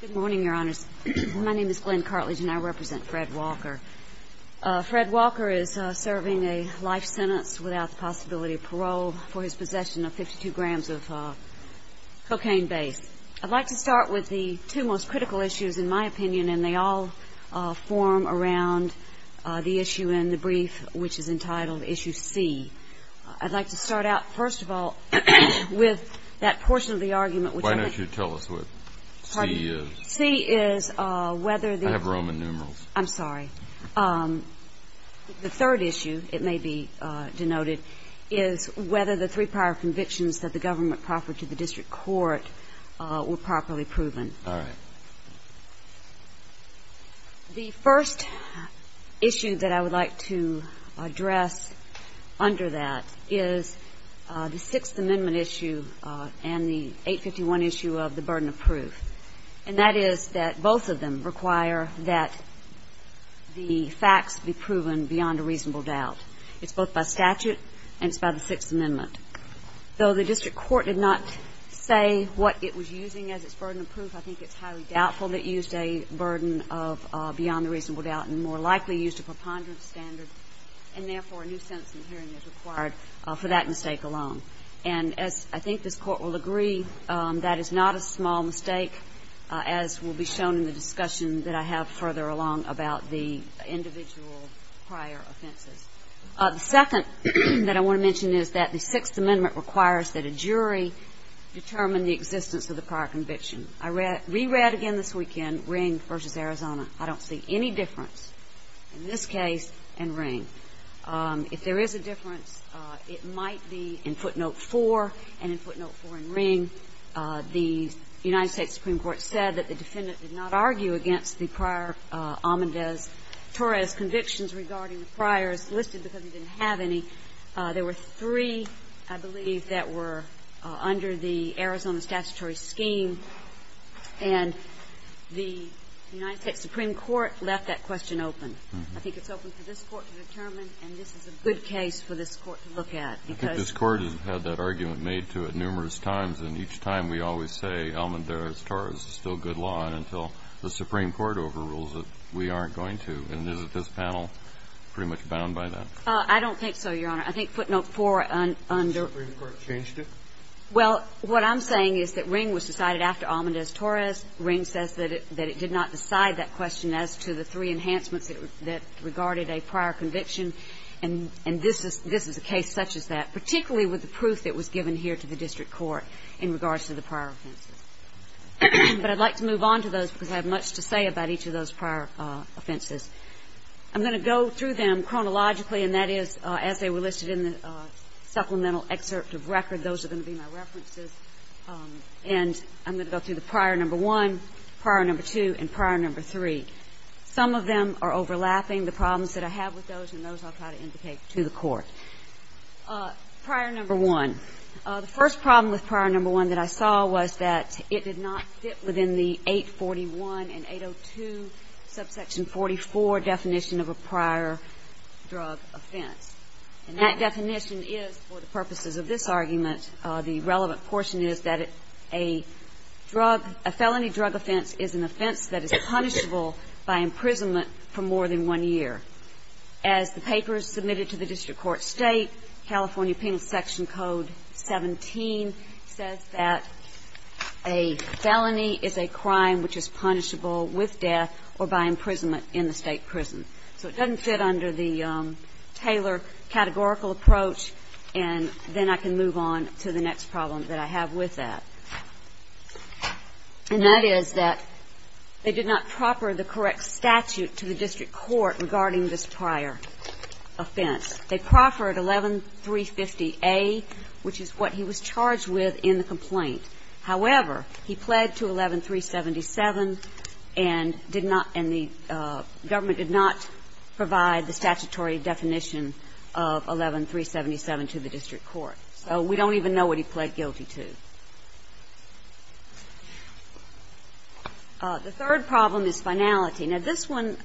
Good morning, Your Honors. My name is Glenn Cartlidge and I represent Fred Walker. Fred Walker is serving a life sentence without the possibility of parole for his possession of 52 grams of cocaine base. I'd like to start with the two most critical issues, in my opinion, and they all form around the issue in the brief, which is entitled Issue C. I'd like to start out, first of all, with that portion of the argument, which I think Why don't you tell us what C is? C is whether the I have Roman numerals. I'm sorry. The third issue, it may be denoted, is whether the three prior convictions that the government proffered to the district court were properly proven. All right. The first issue that I would like to address under that is the Sixth Amendment issue and the 851 issue of the burden of proof. And that is that both of them require that the facts be proven beyond a reasonable doubt. It's both by statute and it's by the Sixth Amendment. Though the district court did not say what it was using as its burden of proof, I think it's highly doubtful that it used a burden of beyond a reasonable doubt and more likely used a preponderance standard, and therefore a new sentence in the hearing is required for that mistake alone. And as I think this Court will agree, that is not a small mistake, as will be shown in the discussion that I have further along about the individual prior offenses. The second that I want to mention is that the Sixth Amendment requires that a jury determine the existence of the prior conviction. I re-read again this weekend Ring v. Arizona. I don't see any difference in this case and Ring. If there is a difference, it might be in footnote 4, and in footnote 4 in Ring, the United States Supreme Court said that the defendant did not argue against the prior Almendarez-Torres convictions regarding the priors listed because he didn't have any. There were three, I believe, that were under the Arizona statutory scheme, and the United States Supreme Court left that question open. I think it's open for this Court to determine, and this is a good case for this Court to look at, because this Court has had that argument made to it numerous times, and each time we always say Almendarez-Torres is still good law until the Supreme Court overrules it. We aren't going to. And isn't this panel pretty much bound by that? I don't think so, Your Honor. I think footnote 4 under the Supreme Court changed it. Well, what I'm saying is that Ring was decided after Almendarez-Torres. Ring says that it did not decide that question as to the three enhancements that regarded a prior conviction. And this is a case such as that, particularly with the proof that was given here to the district court in regards to the prior offenses. But I'd like to move on to those because I have much to say about each of those prior offenses. I'm going to go through them chronologically, and that is, as they were listed in the supplemental excerpt of record, those are going to be my references. And I'm going to go through the prior number 1, prior number 2, and prior number 3. Some of them are overlapping. The problems that I have with those and those I'll try to indicate to the Court. Prior number 1. The first problem with prior number 1 that I saw was that it did not fit within the 841 and 802 subsection 44 definition of a prior drug offense. And that definition is, for the purposes of this argument, the relevant portion is that a drug, a felony drug offense is an offense that is punishable by imprisonment for more than one year. As the papers submitted to the district court state, California Penal Section Code 17 says that a felony is a crime which is punishable with death or by imprisonment in the state prison. So it doesn't fit under the Taylor categorical approach. And then I can move on to the next problem that I have with that. And that is that they did not proffer the correct statute to the district court regarding this prior offense. They proffered 11350A, which is what he was charged with in the complaint. However, he pled to 11377 and did not, and the government did not provide the statutory definition of 11377 to the district court. So we don't even know what he pled guilty to. The third problem is finality. Now, this one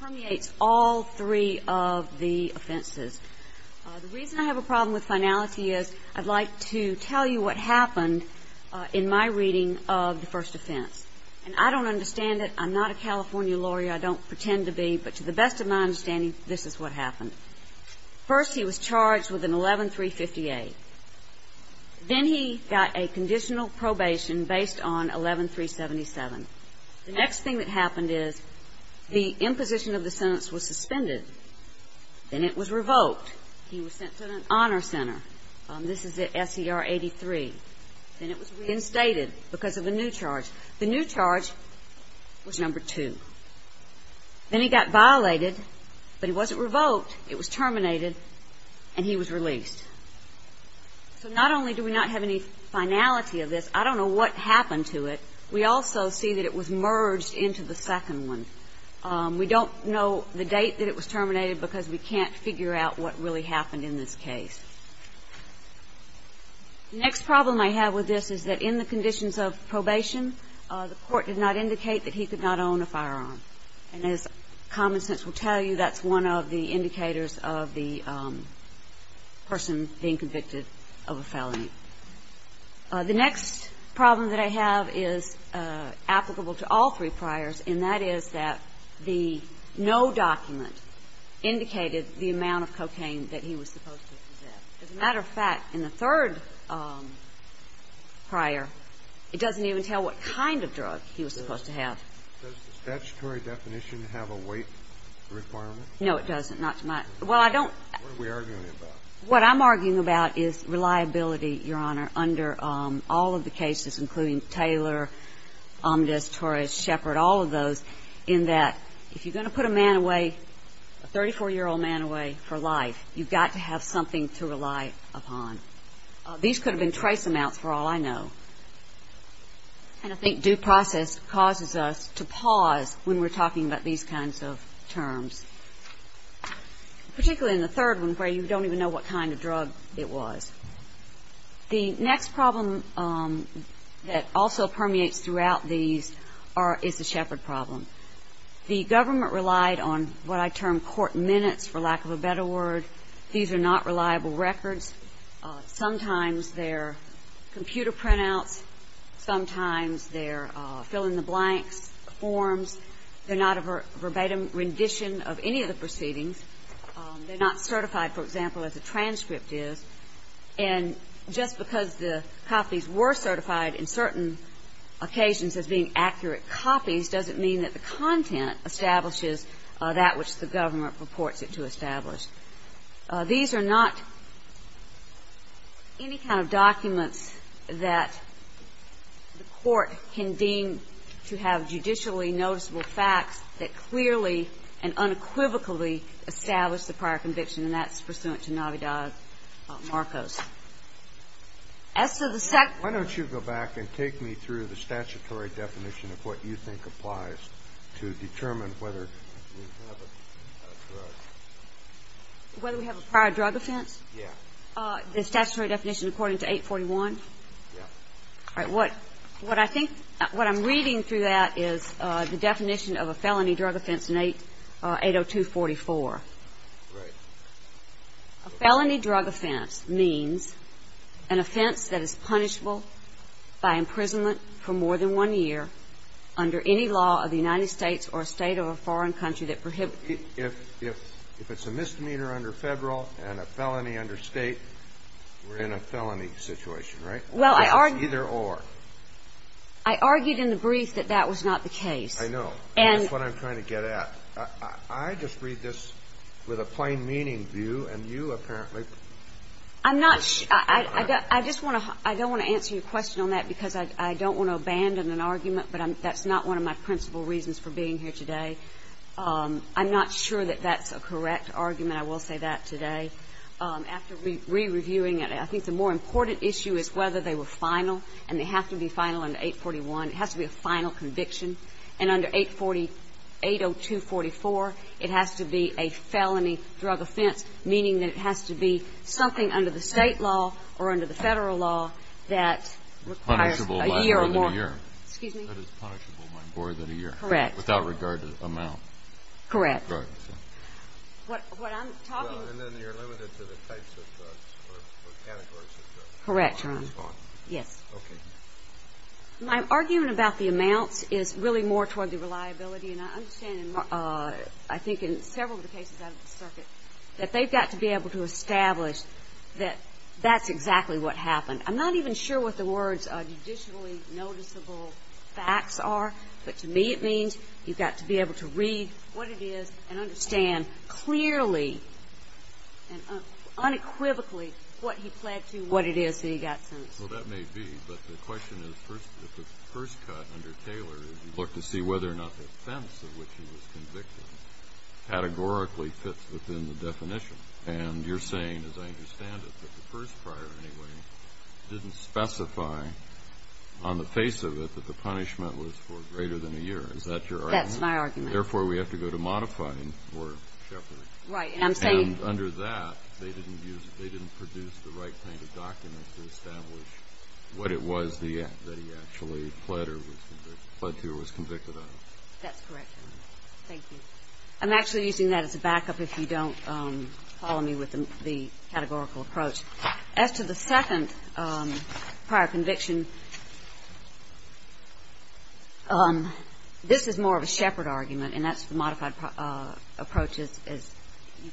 permeates all three of the offenses. The reason I have a problem with finality is I'd like to tell you what happened in my reading of the first offense. And I don't understand it. I'm not a California lawyer. I don't pretend to be. But to the best of my understanding, this is what happened. First, he was charged with an 11358. Then he got a conditional probation based on 11377. The next thing that happened is the imposition of the sentence was suspended. Then it was revoked. He was sent to an honor center. This is the SER 83. Then it was reinstated because of a new charge. The new charge was number two. Then he got violated, but he wasn't revoked. It was terminated, and he was released. So not only do we not have any finality of this, I don't know what happened to it. We also see that it was merged into the second one. We don't know the date that it was terminated because we can't figure out what really happened in this case. The next problem I have with this is that in the conditions of probation, the court did not indicate that he could not own a firearm. And as common sense will tell you, that's one of the indicators of the person being convicted of a felony. The next problem that I have is applicable to all three priors, and that is that the no document indicated the amount of cocaine that he was supposed to have. As a matter of fact, in the third prior, it doesn't even tell what kind of drug he was supposed to have. Does the statutory definition have a weight requirement? No, it doesn't. Well, I don't. What are we arguing about? What I'm arguing about is reliability, Your Honor, under all of the cases, including Taylor, Omdas, Torres, Shepard, all of those, in that if you're going to put a man away, a 34-year-old man away for life, you've got to have something to rely upon. These could have been trace amounts for all I know. And I think due process causes us to pause when we're talking about these kinds of terms. Particularly in the third one where you don't even know what kind of drug it was. The next problem that also permeates throughout these is the Shepard problem. The government relied on what I term court minutes, for lack of a better word. These are not reliable records. Sometimes they're computer printouts. Sometimes they're fill-in-the-blanks forms. They're not a verbatim rendition of any of the proceedings. They're not certified, for example, as a transcript is. And just because the copies were certified in certain occasions as being accurate copies doesn't mean that the content establishes that which the government purports it to establish. These are not any kind of documents that the court can deem to have judicially noticeable facts that clearly and unequivocally establish the prior conviction. And that's pursuant to Navidad-Marcos. As to the second one. Why don't you go back and take me through the statutory definition of what you think applies to determine whether we have a drug. Whether we have a prior drug offense? Yeah. The statutory definition according to 841? Yeah. All right. What I think what I'm reading through that is the definition of a felony drug offense in 80244. Right. A felony drug offense means an offense that is punishable by imprisonment for more than one year under any law of the United States or a State or a foreign country that prohibits. If it's a misdemeanor under Federal and a felony under State, we're in a felony situation, right? Well, I argue. Because it's either or. I argued in the brief that that was not the case. I know. And that's what I'm trying to get at. I just read this with a plain meaning view and you apparently. I'm not sure. I don't want to answer your question on that because I don't want to abandon an argument, but that's not one of my principal reasons for being here today. I'm not sure that that's a correct argument. I will say that today. After re-reviewing it, I think the more important issue is whether they were final and they have to be final under 841. It has to be a final conviction. And under 80244, it has to be a felony drug offense, meaning that it has to be something under the State law or under the Federal law that requires a year or more. Excuse me? That is punishable by more than a year. Correct. Without regard to amount. Correct. What I'm talking about. And then you're limited to the types of drugs or categories of drugs. Correct, Your Honor. Yes. Okay. My argument about the amounts is really more toward the reliability and I understand, I think in several of the cases out of the circuit, that they've got to be able to establish that that's exactly what happened. I'm not even sure what the words judicially noticeable facts are, but to me it is. You've got to be able to read what it is and understand clearly and unequivocally what he pled to, what it is that he got sentenced to. Well, that may be. But the question is, the first cut under Taylor is you look to see whether or not the offense of which he was convicted categorically fits within the definition. And you're saying, as I understand it, that the first prior anyway didn't specify on the face of it that the punishment was for greater than a year. Is that your argument? That's my argument. Therefore, we have to go to modifying or shepherding. Right. And I'm saying. And under that, they didn't produce the right kind of documents to establish what it was that he actually pled to or was convicted of. That's correct, Your Honor. Thank you. I'm actually using that as a backup if you don't follow me with the categorical approach. As to the second prior conviction, this is more of a shepherd argument, and that's the modified approach is.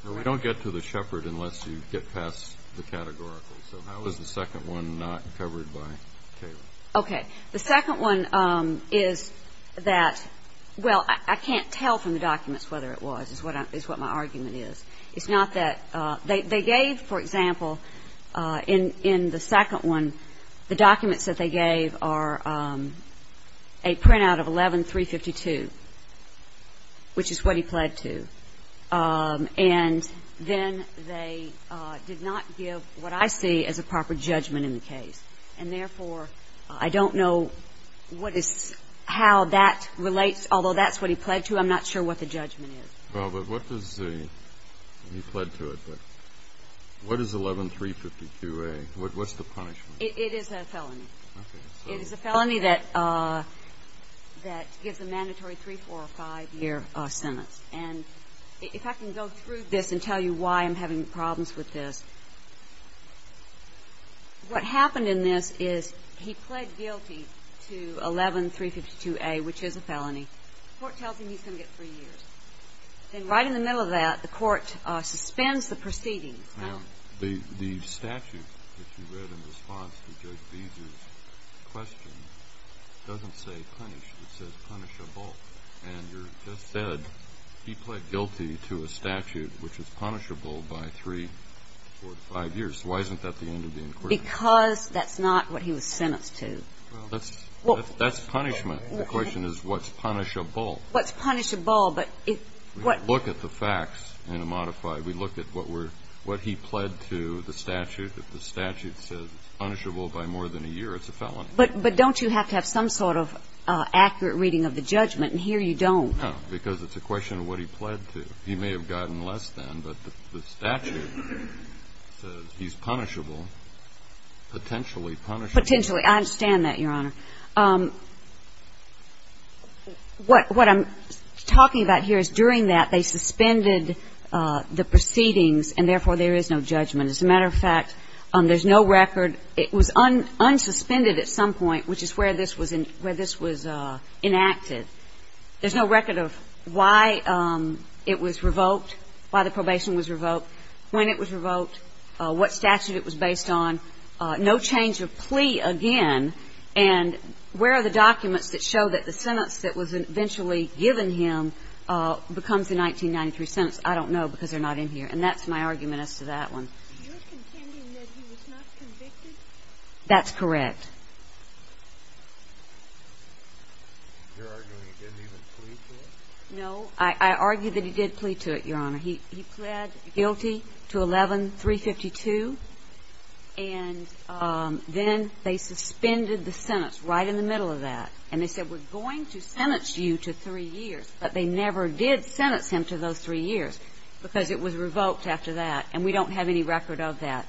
We don't get to the shepherd unless you get past the categorical. So how is the second one not covered by Taylor? Okay. The second one is that, well, I can't tell from the documents whether it was, is what my argument is. It's not that they gave, for example, in the second one, the documents that they gave are a printout of 11352, which is what he pled to. And then they did not give what I see as a proper judgment in the case. And therefore, I don't know what is how that relates, although that's what he pled to, I'm not sure what the judgment is. Well, but what does the, he pled to it, but what is 11352A? What's the punishment? It is a felony. Okay. It is a felony that gives a mandatory three-, four-, or five-year sentence. And if I can go through this and tell you why I'm having problems with this, what happened in this is he pled guilty to 11352A, which is a felony. The court tells him he's going to get three years. And right in the middle of that, the court suspends the proceedings. Now, the statute that you read in response to Judge Beezer's question doesn't say punished. It says punishable. And you just said he pled guilty to a statute which is punishable by three-, four-, or five-years. Why isn't that the end of the inquiry? Because that's not what he was sentenced to. Well, that's punishment. The question is what's punishable. What's punishable. But if what We look at the facts in a modified. We look at what he pled to the statute. If the statute says punishable by more than a year, it's a felony. But don't you have to have some sort of accurate reading of the judgment? And here you don't. No. Because it's a question of what he pled to. He may have gotten less than, but the statute says he's punishable, potentially punishable. I understand that, Your Honor. What I'm talking about here is during that, they suspended the proceedings and, therefore, there is no judgment. As a matter of fact, there's no record. It was unsuspended at some point, which is where this was enacted. There's no record of why it was revoked, why the probation was revoked, when it was revoked, what statute it was based on. No change of plea again. And where are the documents that show that the sentence that was eventually given him becomes the 1993 sentence? I don't know because they're not in here. And that's my argument as to that one. You're contending that he was not convicted? That's correct. You're arguing he didn't even plead to it? No. I argue that he did plead to it, Your Honor. He pled guilty to 11-352. And then they suspended the sentence right in the middle of that. And they said we're going to sentence you to 3 years, but they never did sentence him to those 3 years because it was revoked after that. And we don't have any record of that.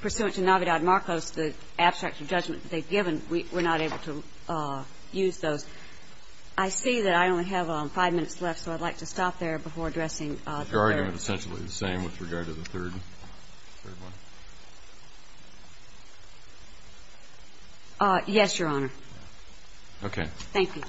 Pursuant to Navidad-Marcos, the abstract judgment that they've given, we're not able to use those. I see that I only have 5 minutes left, so I'd like to stop there before addressing the third. Is your argument essentially the same with regard to the third one? Yes, Your Honor. Okay. Thank you.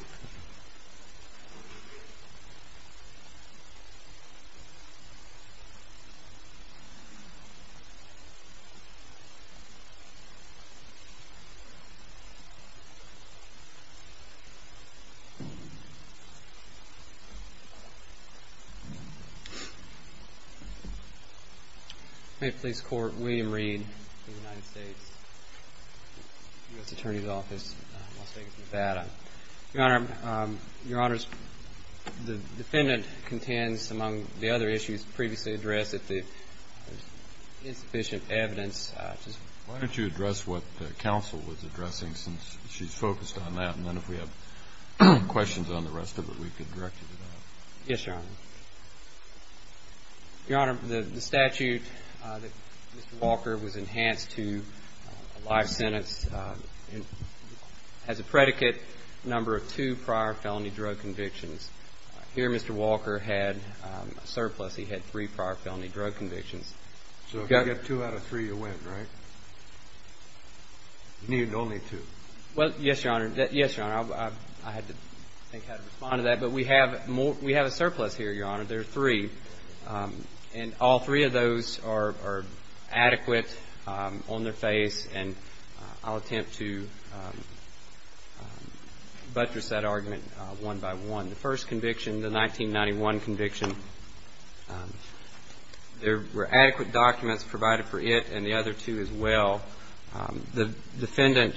May it please the Court, William Reed of the United States, U.S. Attorney's Office, Las Vegas, Nevada. Your Honor, the defendant contends, among the other issues previously addressed, that there's insufficient evidence. Why don't you address what counsel was addressing since she's focused on that? And then if we have questions on the rest of it, we can direct you to that. Yes, Your Honor. Your Honor, the statute that Mr. Walker was enhanced to a live sentence has a predicate number of 2 prior felony drug convictions. Here, Mr. Walker had a surplus. He had 3 prior felony drug convictions. So if you get 2 out of 3, you win, right? You need only 2. Well, yes, Your Honor. Yes, Your Honor. I had to think how to respond to that. But we have a surplus here, Your Honor. There are 3. And all 3 of those are adequate on their face. And I'll attempt to buttress that argument one by one. The first conviction, the 1991 conviction, there were adequate documents provided for it and the other 2 as well. The defendant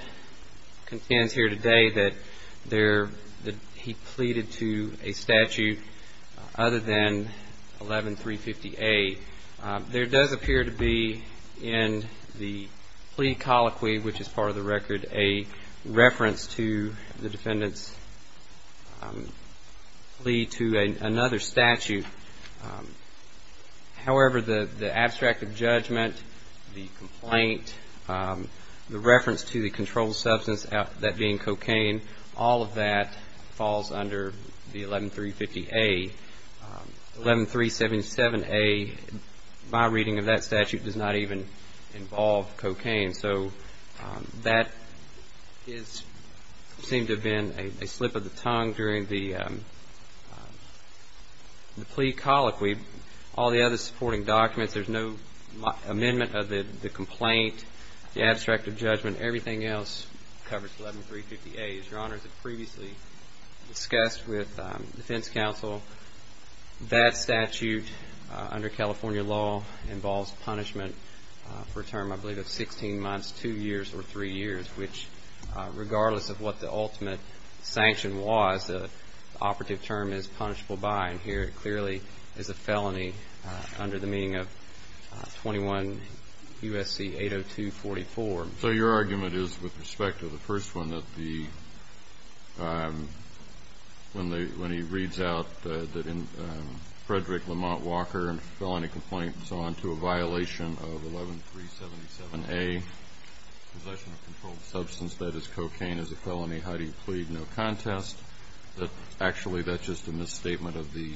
contends here today that he pleaded to a statute other than 11350A. There does appear to be in the plea colloquy, which is part of the record, a reference to the defendant's plea to another statute. However, the abstract of judgment, the complaint, the reference to the controlled substance, that being cocaine, all of that falls under the 11350A. 11377A, my reading of that statute, does not even involve cocaine. So that seems to have been a slip of the tongue during the plea colloquy. All the other supporting documents, there's no amendment of the complaint, the abstract of judgment, everything else covers 11350A. As Your Honor has previously discussed with the defense counsel, that statute under California law involves punishment for a term I believe of 16 months, 2 years, or 3 years, which regardless of what the ultimate sanction was, the operative term is punishable by. And here it clearly is a felony under the meaning of 21 U.S.C. 80244. So your argument is, with respect to the first one, that when he reads out that in Frederick Lamont Walker and felony complaints on to a violation of 11377A, possession of controlled substance, that is cocaine, is a felony. How do you plead no contest that actually that's just a misstatement of the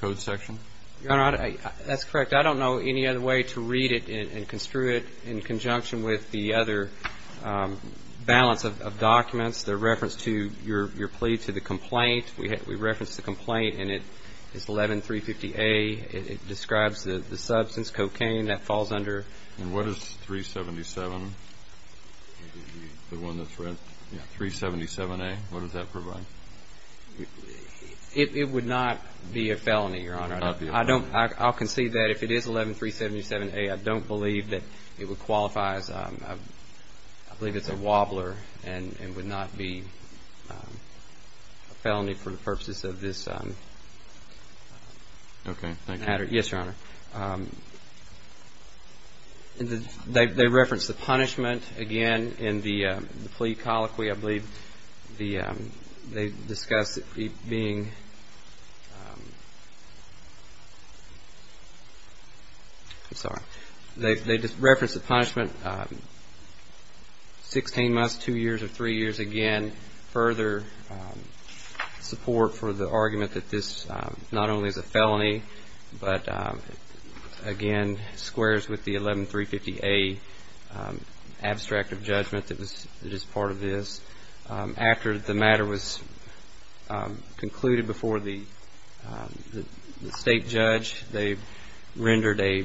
code section? Your Honor, that's correct. I don't know any other way to read it and construe it in conjunction with the other balance of documents. They're referenced to your plea to the complaint. We referenced the complaint, and it's 11350A. It describes the substance, cocaine, that falls under. And what is 377, the one that's read? Yeah, 377A. What does that provide? It would not be a felony. I'll concede that if it is 11377A, I don't believe that it qualifies. I believe it's a wobbler and would not be a felony for the purposes of this matter. Okay, thank you. Yes, Your Honor. They reference the punishment again in the plea colloquy, I believe. They discuss it being I'm sorry. They reference the punishment 16 months, 2 years, or 3 years again. Further support for the argument that this not only is a felony, but, again, squares with the 11350A abstract of judgment that is part of this. After the matter was concluded before the state judge, they rendered a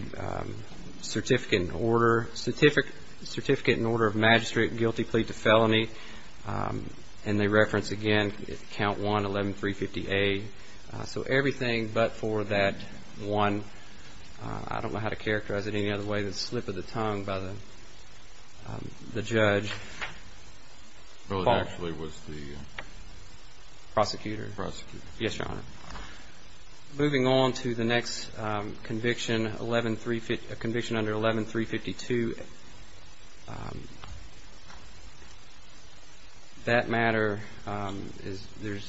certificate in order of magistrate guilty plea to felony. And they reference, again, count 1, 11350A. So everything but for that one, I don't know how to characterize it any other way, the slip of the tongue by the judge, Well, it actually was the Prosecutor. Prosecutor. Yes, Your Honor. Moving on to the next conviction, a conviction under 11352. That matter, there's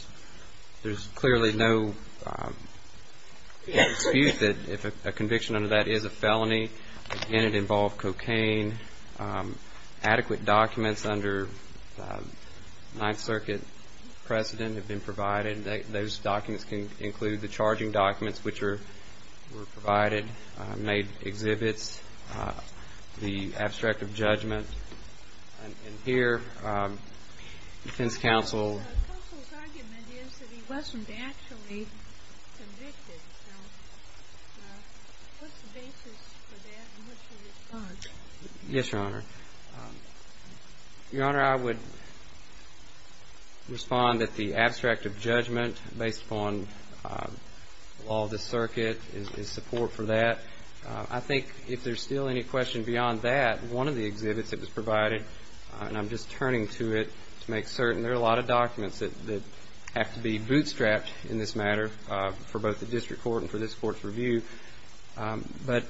clearly no dispute that a conviction under that is a felony. Again, it involved cocaine. Adequate documents under Ninth Circuit precedent have been provided. Those documents can include the charging documents, which were provided, made exhibits, the abstract of judgment. And here defense counsel Counsel's argument is that he wasn't actually convicted. So what's the basis for that and what's your response? Yes, Your Honor. Your Honor, I would respond that the abstract of judgment based upon all the circuit is support for that. I think if there's still any question beyond that, one of the exhibits that was provided, and I'm just turning to it to make certain there are a lot of documents that have to be bootstrapped in this matter but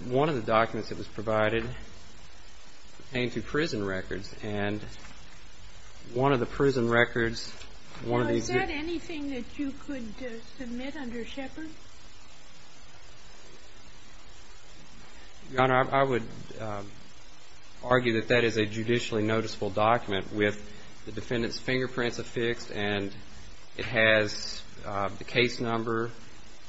one of the documents that was provided came to prison records. And one of the prison records, one of these Is that anything that you could submit under Shepard? Your Honor, I would argue that that is a judicially noticeable document with the defendant's fingerprints affixed and it has the case number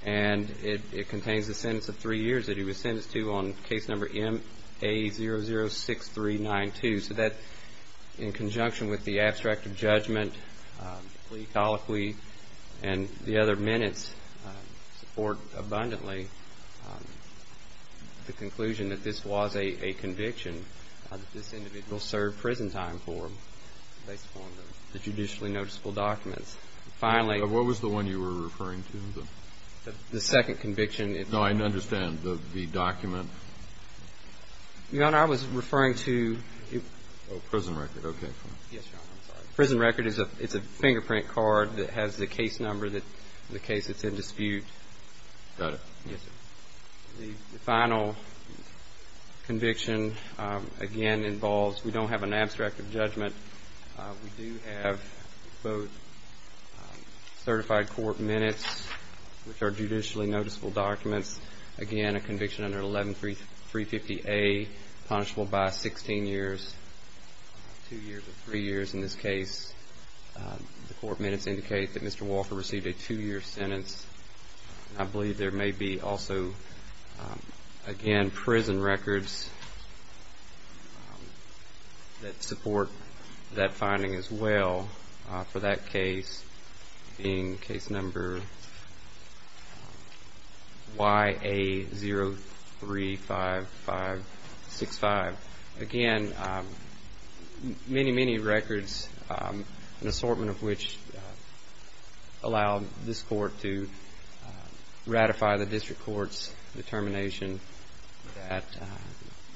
and it contains the sentence of three years that he was sentenced to on case number MA006392. So that, in conjunction with the abstract of judgment, plea, colloquy, and the other minutes support abundantly the conclusion that this was a conviction that this individual served prison time for based upon the judicially noticeable documents. Finally What was the one you were referring to? The second conviction No, I understand. The document Your Honor, I was referring to Oh, prison record. Okay. Yes, Your Honor. I'm sorry. Prison record is a fingerprint card that has the case number, the case that's in dispute. Got it. Yes, sir. The final conviction, again, involves We don't have an abstract of judgment. We do have both certified court minutes which are judicially noticeable documents. Again, a conviction under 11350A punishable by 16 years 2 years or 3 years in this case. The court minutes indicate that Mr. Walford received a 2-year sentence. I believe there may be also again, prison records that support that finding as well for that case being case number YA035565 Again, many, many records an assortment of which allow this court to ratify the district court's determination that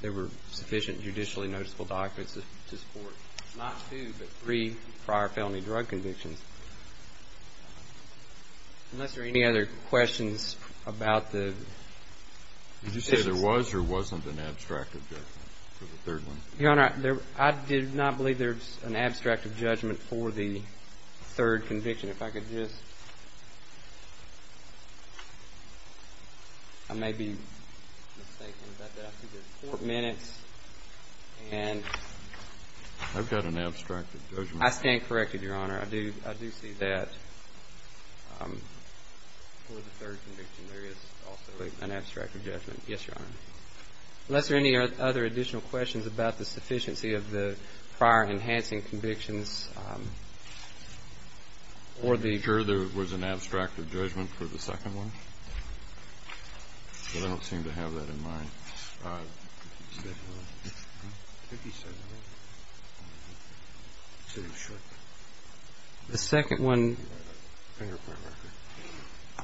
there were sufficient judicially noticeable documents to support not two, but three prior felony drug convictions. Unless there are any other questions about the Did you say there was or wasn't an abstract of judgment for the third one? Your Honor, I did not believe there was an abstract of judgment for the I may be mistaken about that. I see there's court minutes and I've got an abstract of judgment. I stand corrected, Your Honor. I do see that for the third conviction there is also an abstract of judgment. Yes, Your Honor. Unless there are any other additional questions about the sufficiency of the prior enhancing convictions or the Your Honor, there was an abstract of judgment for the second one. But I don't seem to have that in mind. The second one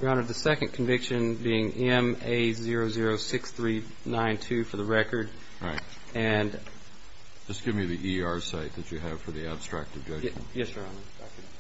Your Honor, the second conviction being MA006392 for the record Just give me the ER site that you have for the abstract of judgment. Yes, Your Honor. Your Honor,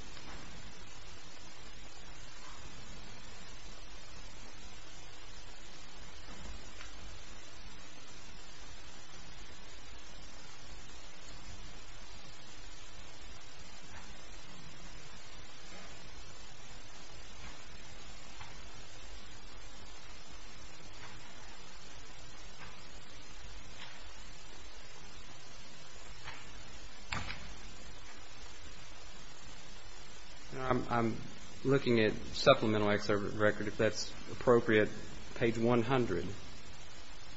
I'm looking at supplemental excerpt of the record. If that's appropriate, page 100.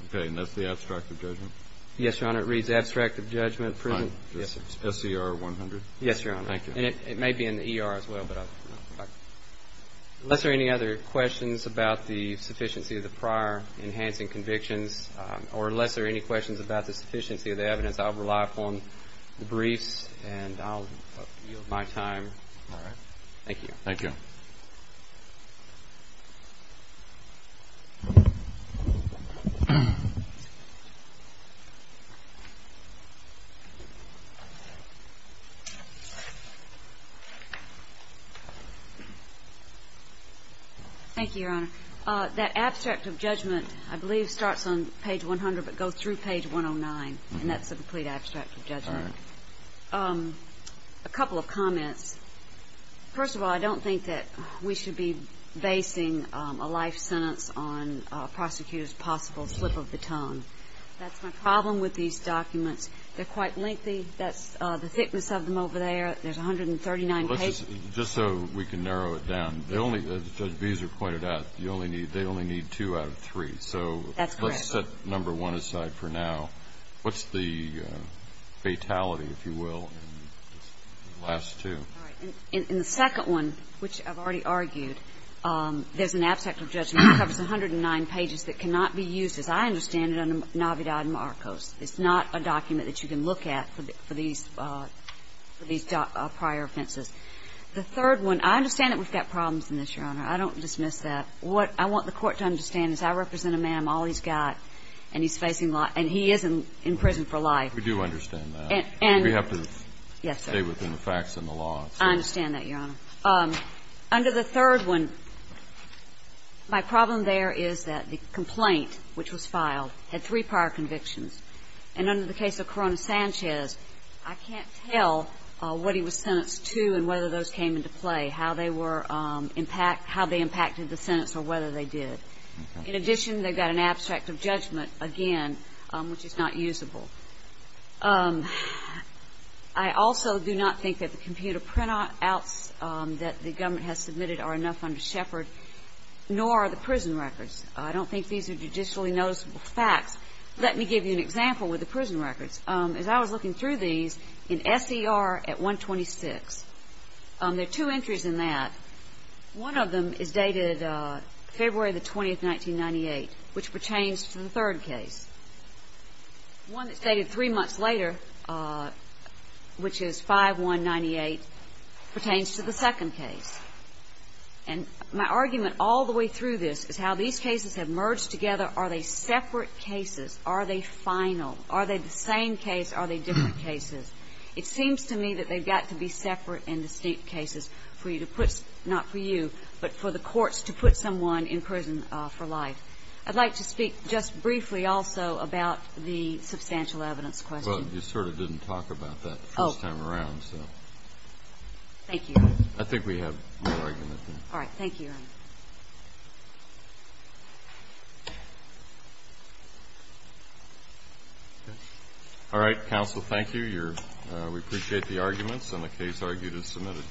Okay, and that's the abstract of judgment? Yes, Your Honor. It reads abstract of judgment. Fine. Yes, sir. SCR100? Yes, Your Honor. Thank you. And it may be in the ER as well, but I Unless there are any other questions about the sufficiency of the prior enhancing convictions or unless there are any questions about the sufficiency of the evidence, I'll rely upon the briefs and I'll yield my time. All right. Thank you. Thank you. Thank you, Your Honor. That abstract of judgment, I believe, starts on page 100, but goes through page 109. And that's a complete abstract of judgment. All right. A couple of comments. First of all, I don't think that we should be basing a life sentence on a prosecutor's possible slip of the tongue. That's my problem with these documents. They're quite lengthy. That's the thickness of them over there. There's 139 pages. Just so we can narrow it down. As Judge Beezer pointed out, they only need two out of three. That's correct. So let's set number one aside for now. What's the fatality, if you will, in the last two? All right. In the second one, which I've already argued, there's an abstract of judgment that covers 109 pages that cannot be used, as I understand it, under Navidad Marcos. It's not a document that you can look at for these prior offenses. The third one, I understand that we've got problems in this, Your Honor. I don't dismiss that. What I want the Court to understand is I represent a man. I'm all he's got. And he's facing life. And he is in prison for life. We do understand that. Yes, sir. We have to stay within the facts and the law. I understand that, Your Honor. Under the third one, my problem there is that the complaint, which was filed, had three prior convictions. And under the case of Corona Sanchez, I can't tell what he was sentenced to and whether those came into play, how they impacted the sentence or whether they did. In addition, they've got an abstract of judgment, again, which is not usable. I also do not think that the computer printouts that the government has submitted are enough under Shepard, nor are the prison records. I don't think these are judicially noticeable facts. Let me give you an example with the prison records. As I was looking through these, in SER at 126, there are two entries in that. One of them is dated February 20, 1998, which pertains to the third case. One that's dated three months later, which is 5-1-98, pertains to the second case. And my argument all the way through this is how these cases have merged together. Are they separate cases? Are they final? Are they the same case? Are they different cases? It seems to me that they've got to be separate and distinct cases for you to put ‑‑ not for you, but for the courts to put someone in prison for life. I'd like to speak just briefly also about the substantial evidence question. Well, you sort of didn't talk about that the first time around, so. Oh. Thank you. I think we have more argument than that. All right. Thank you. All right. Counsel, thank you. We appreciate the arguments, and the case argued is submitted.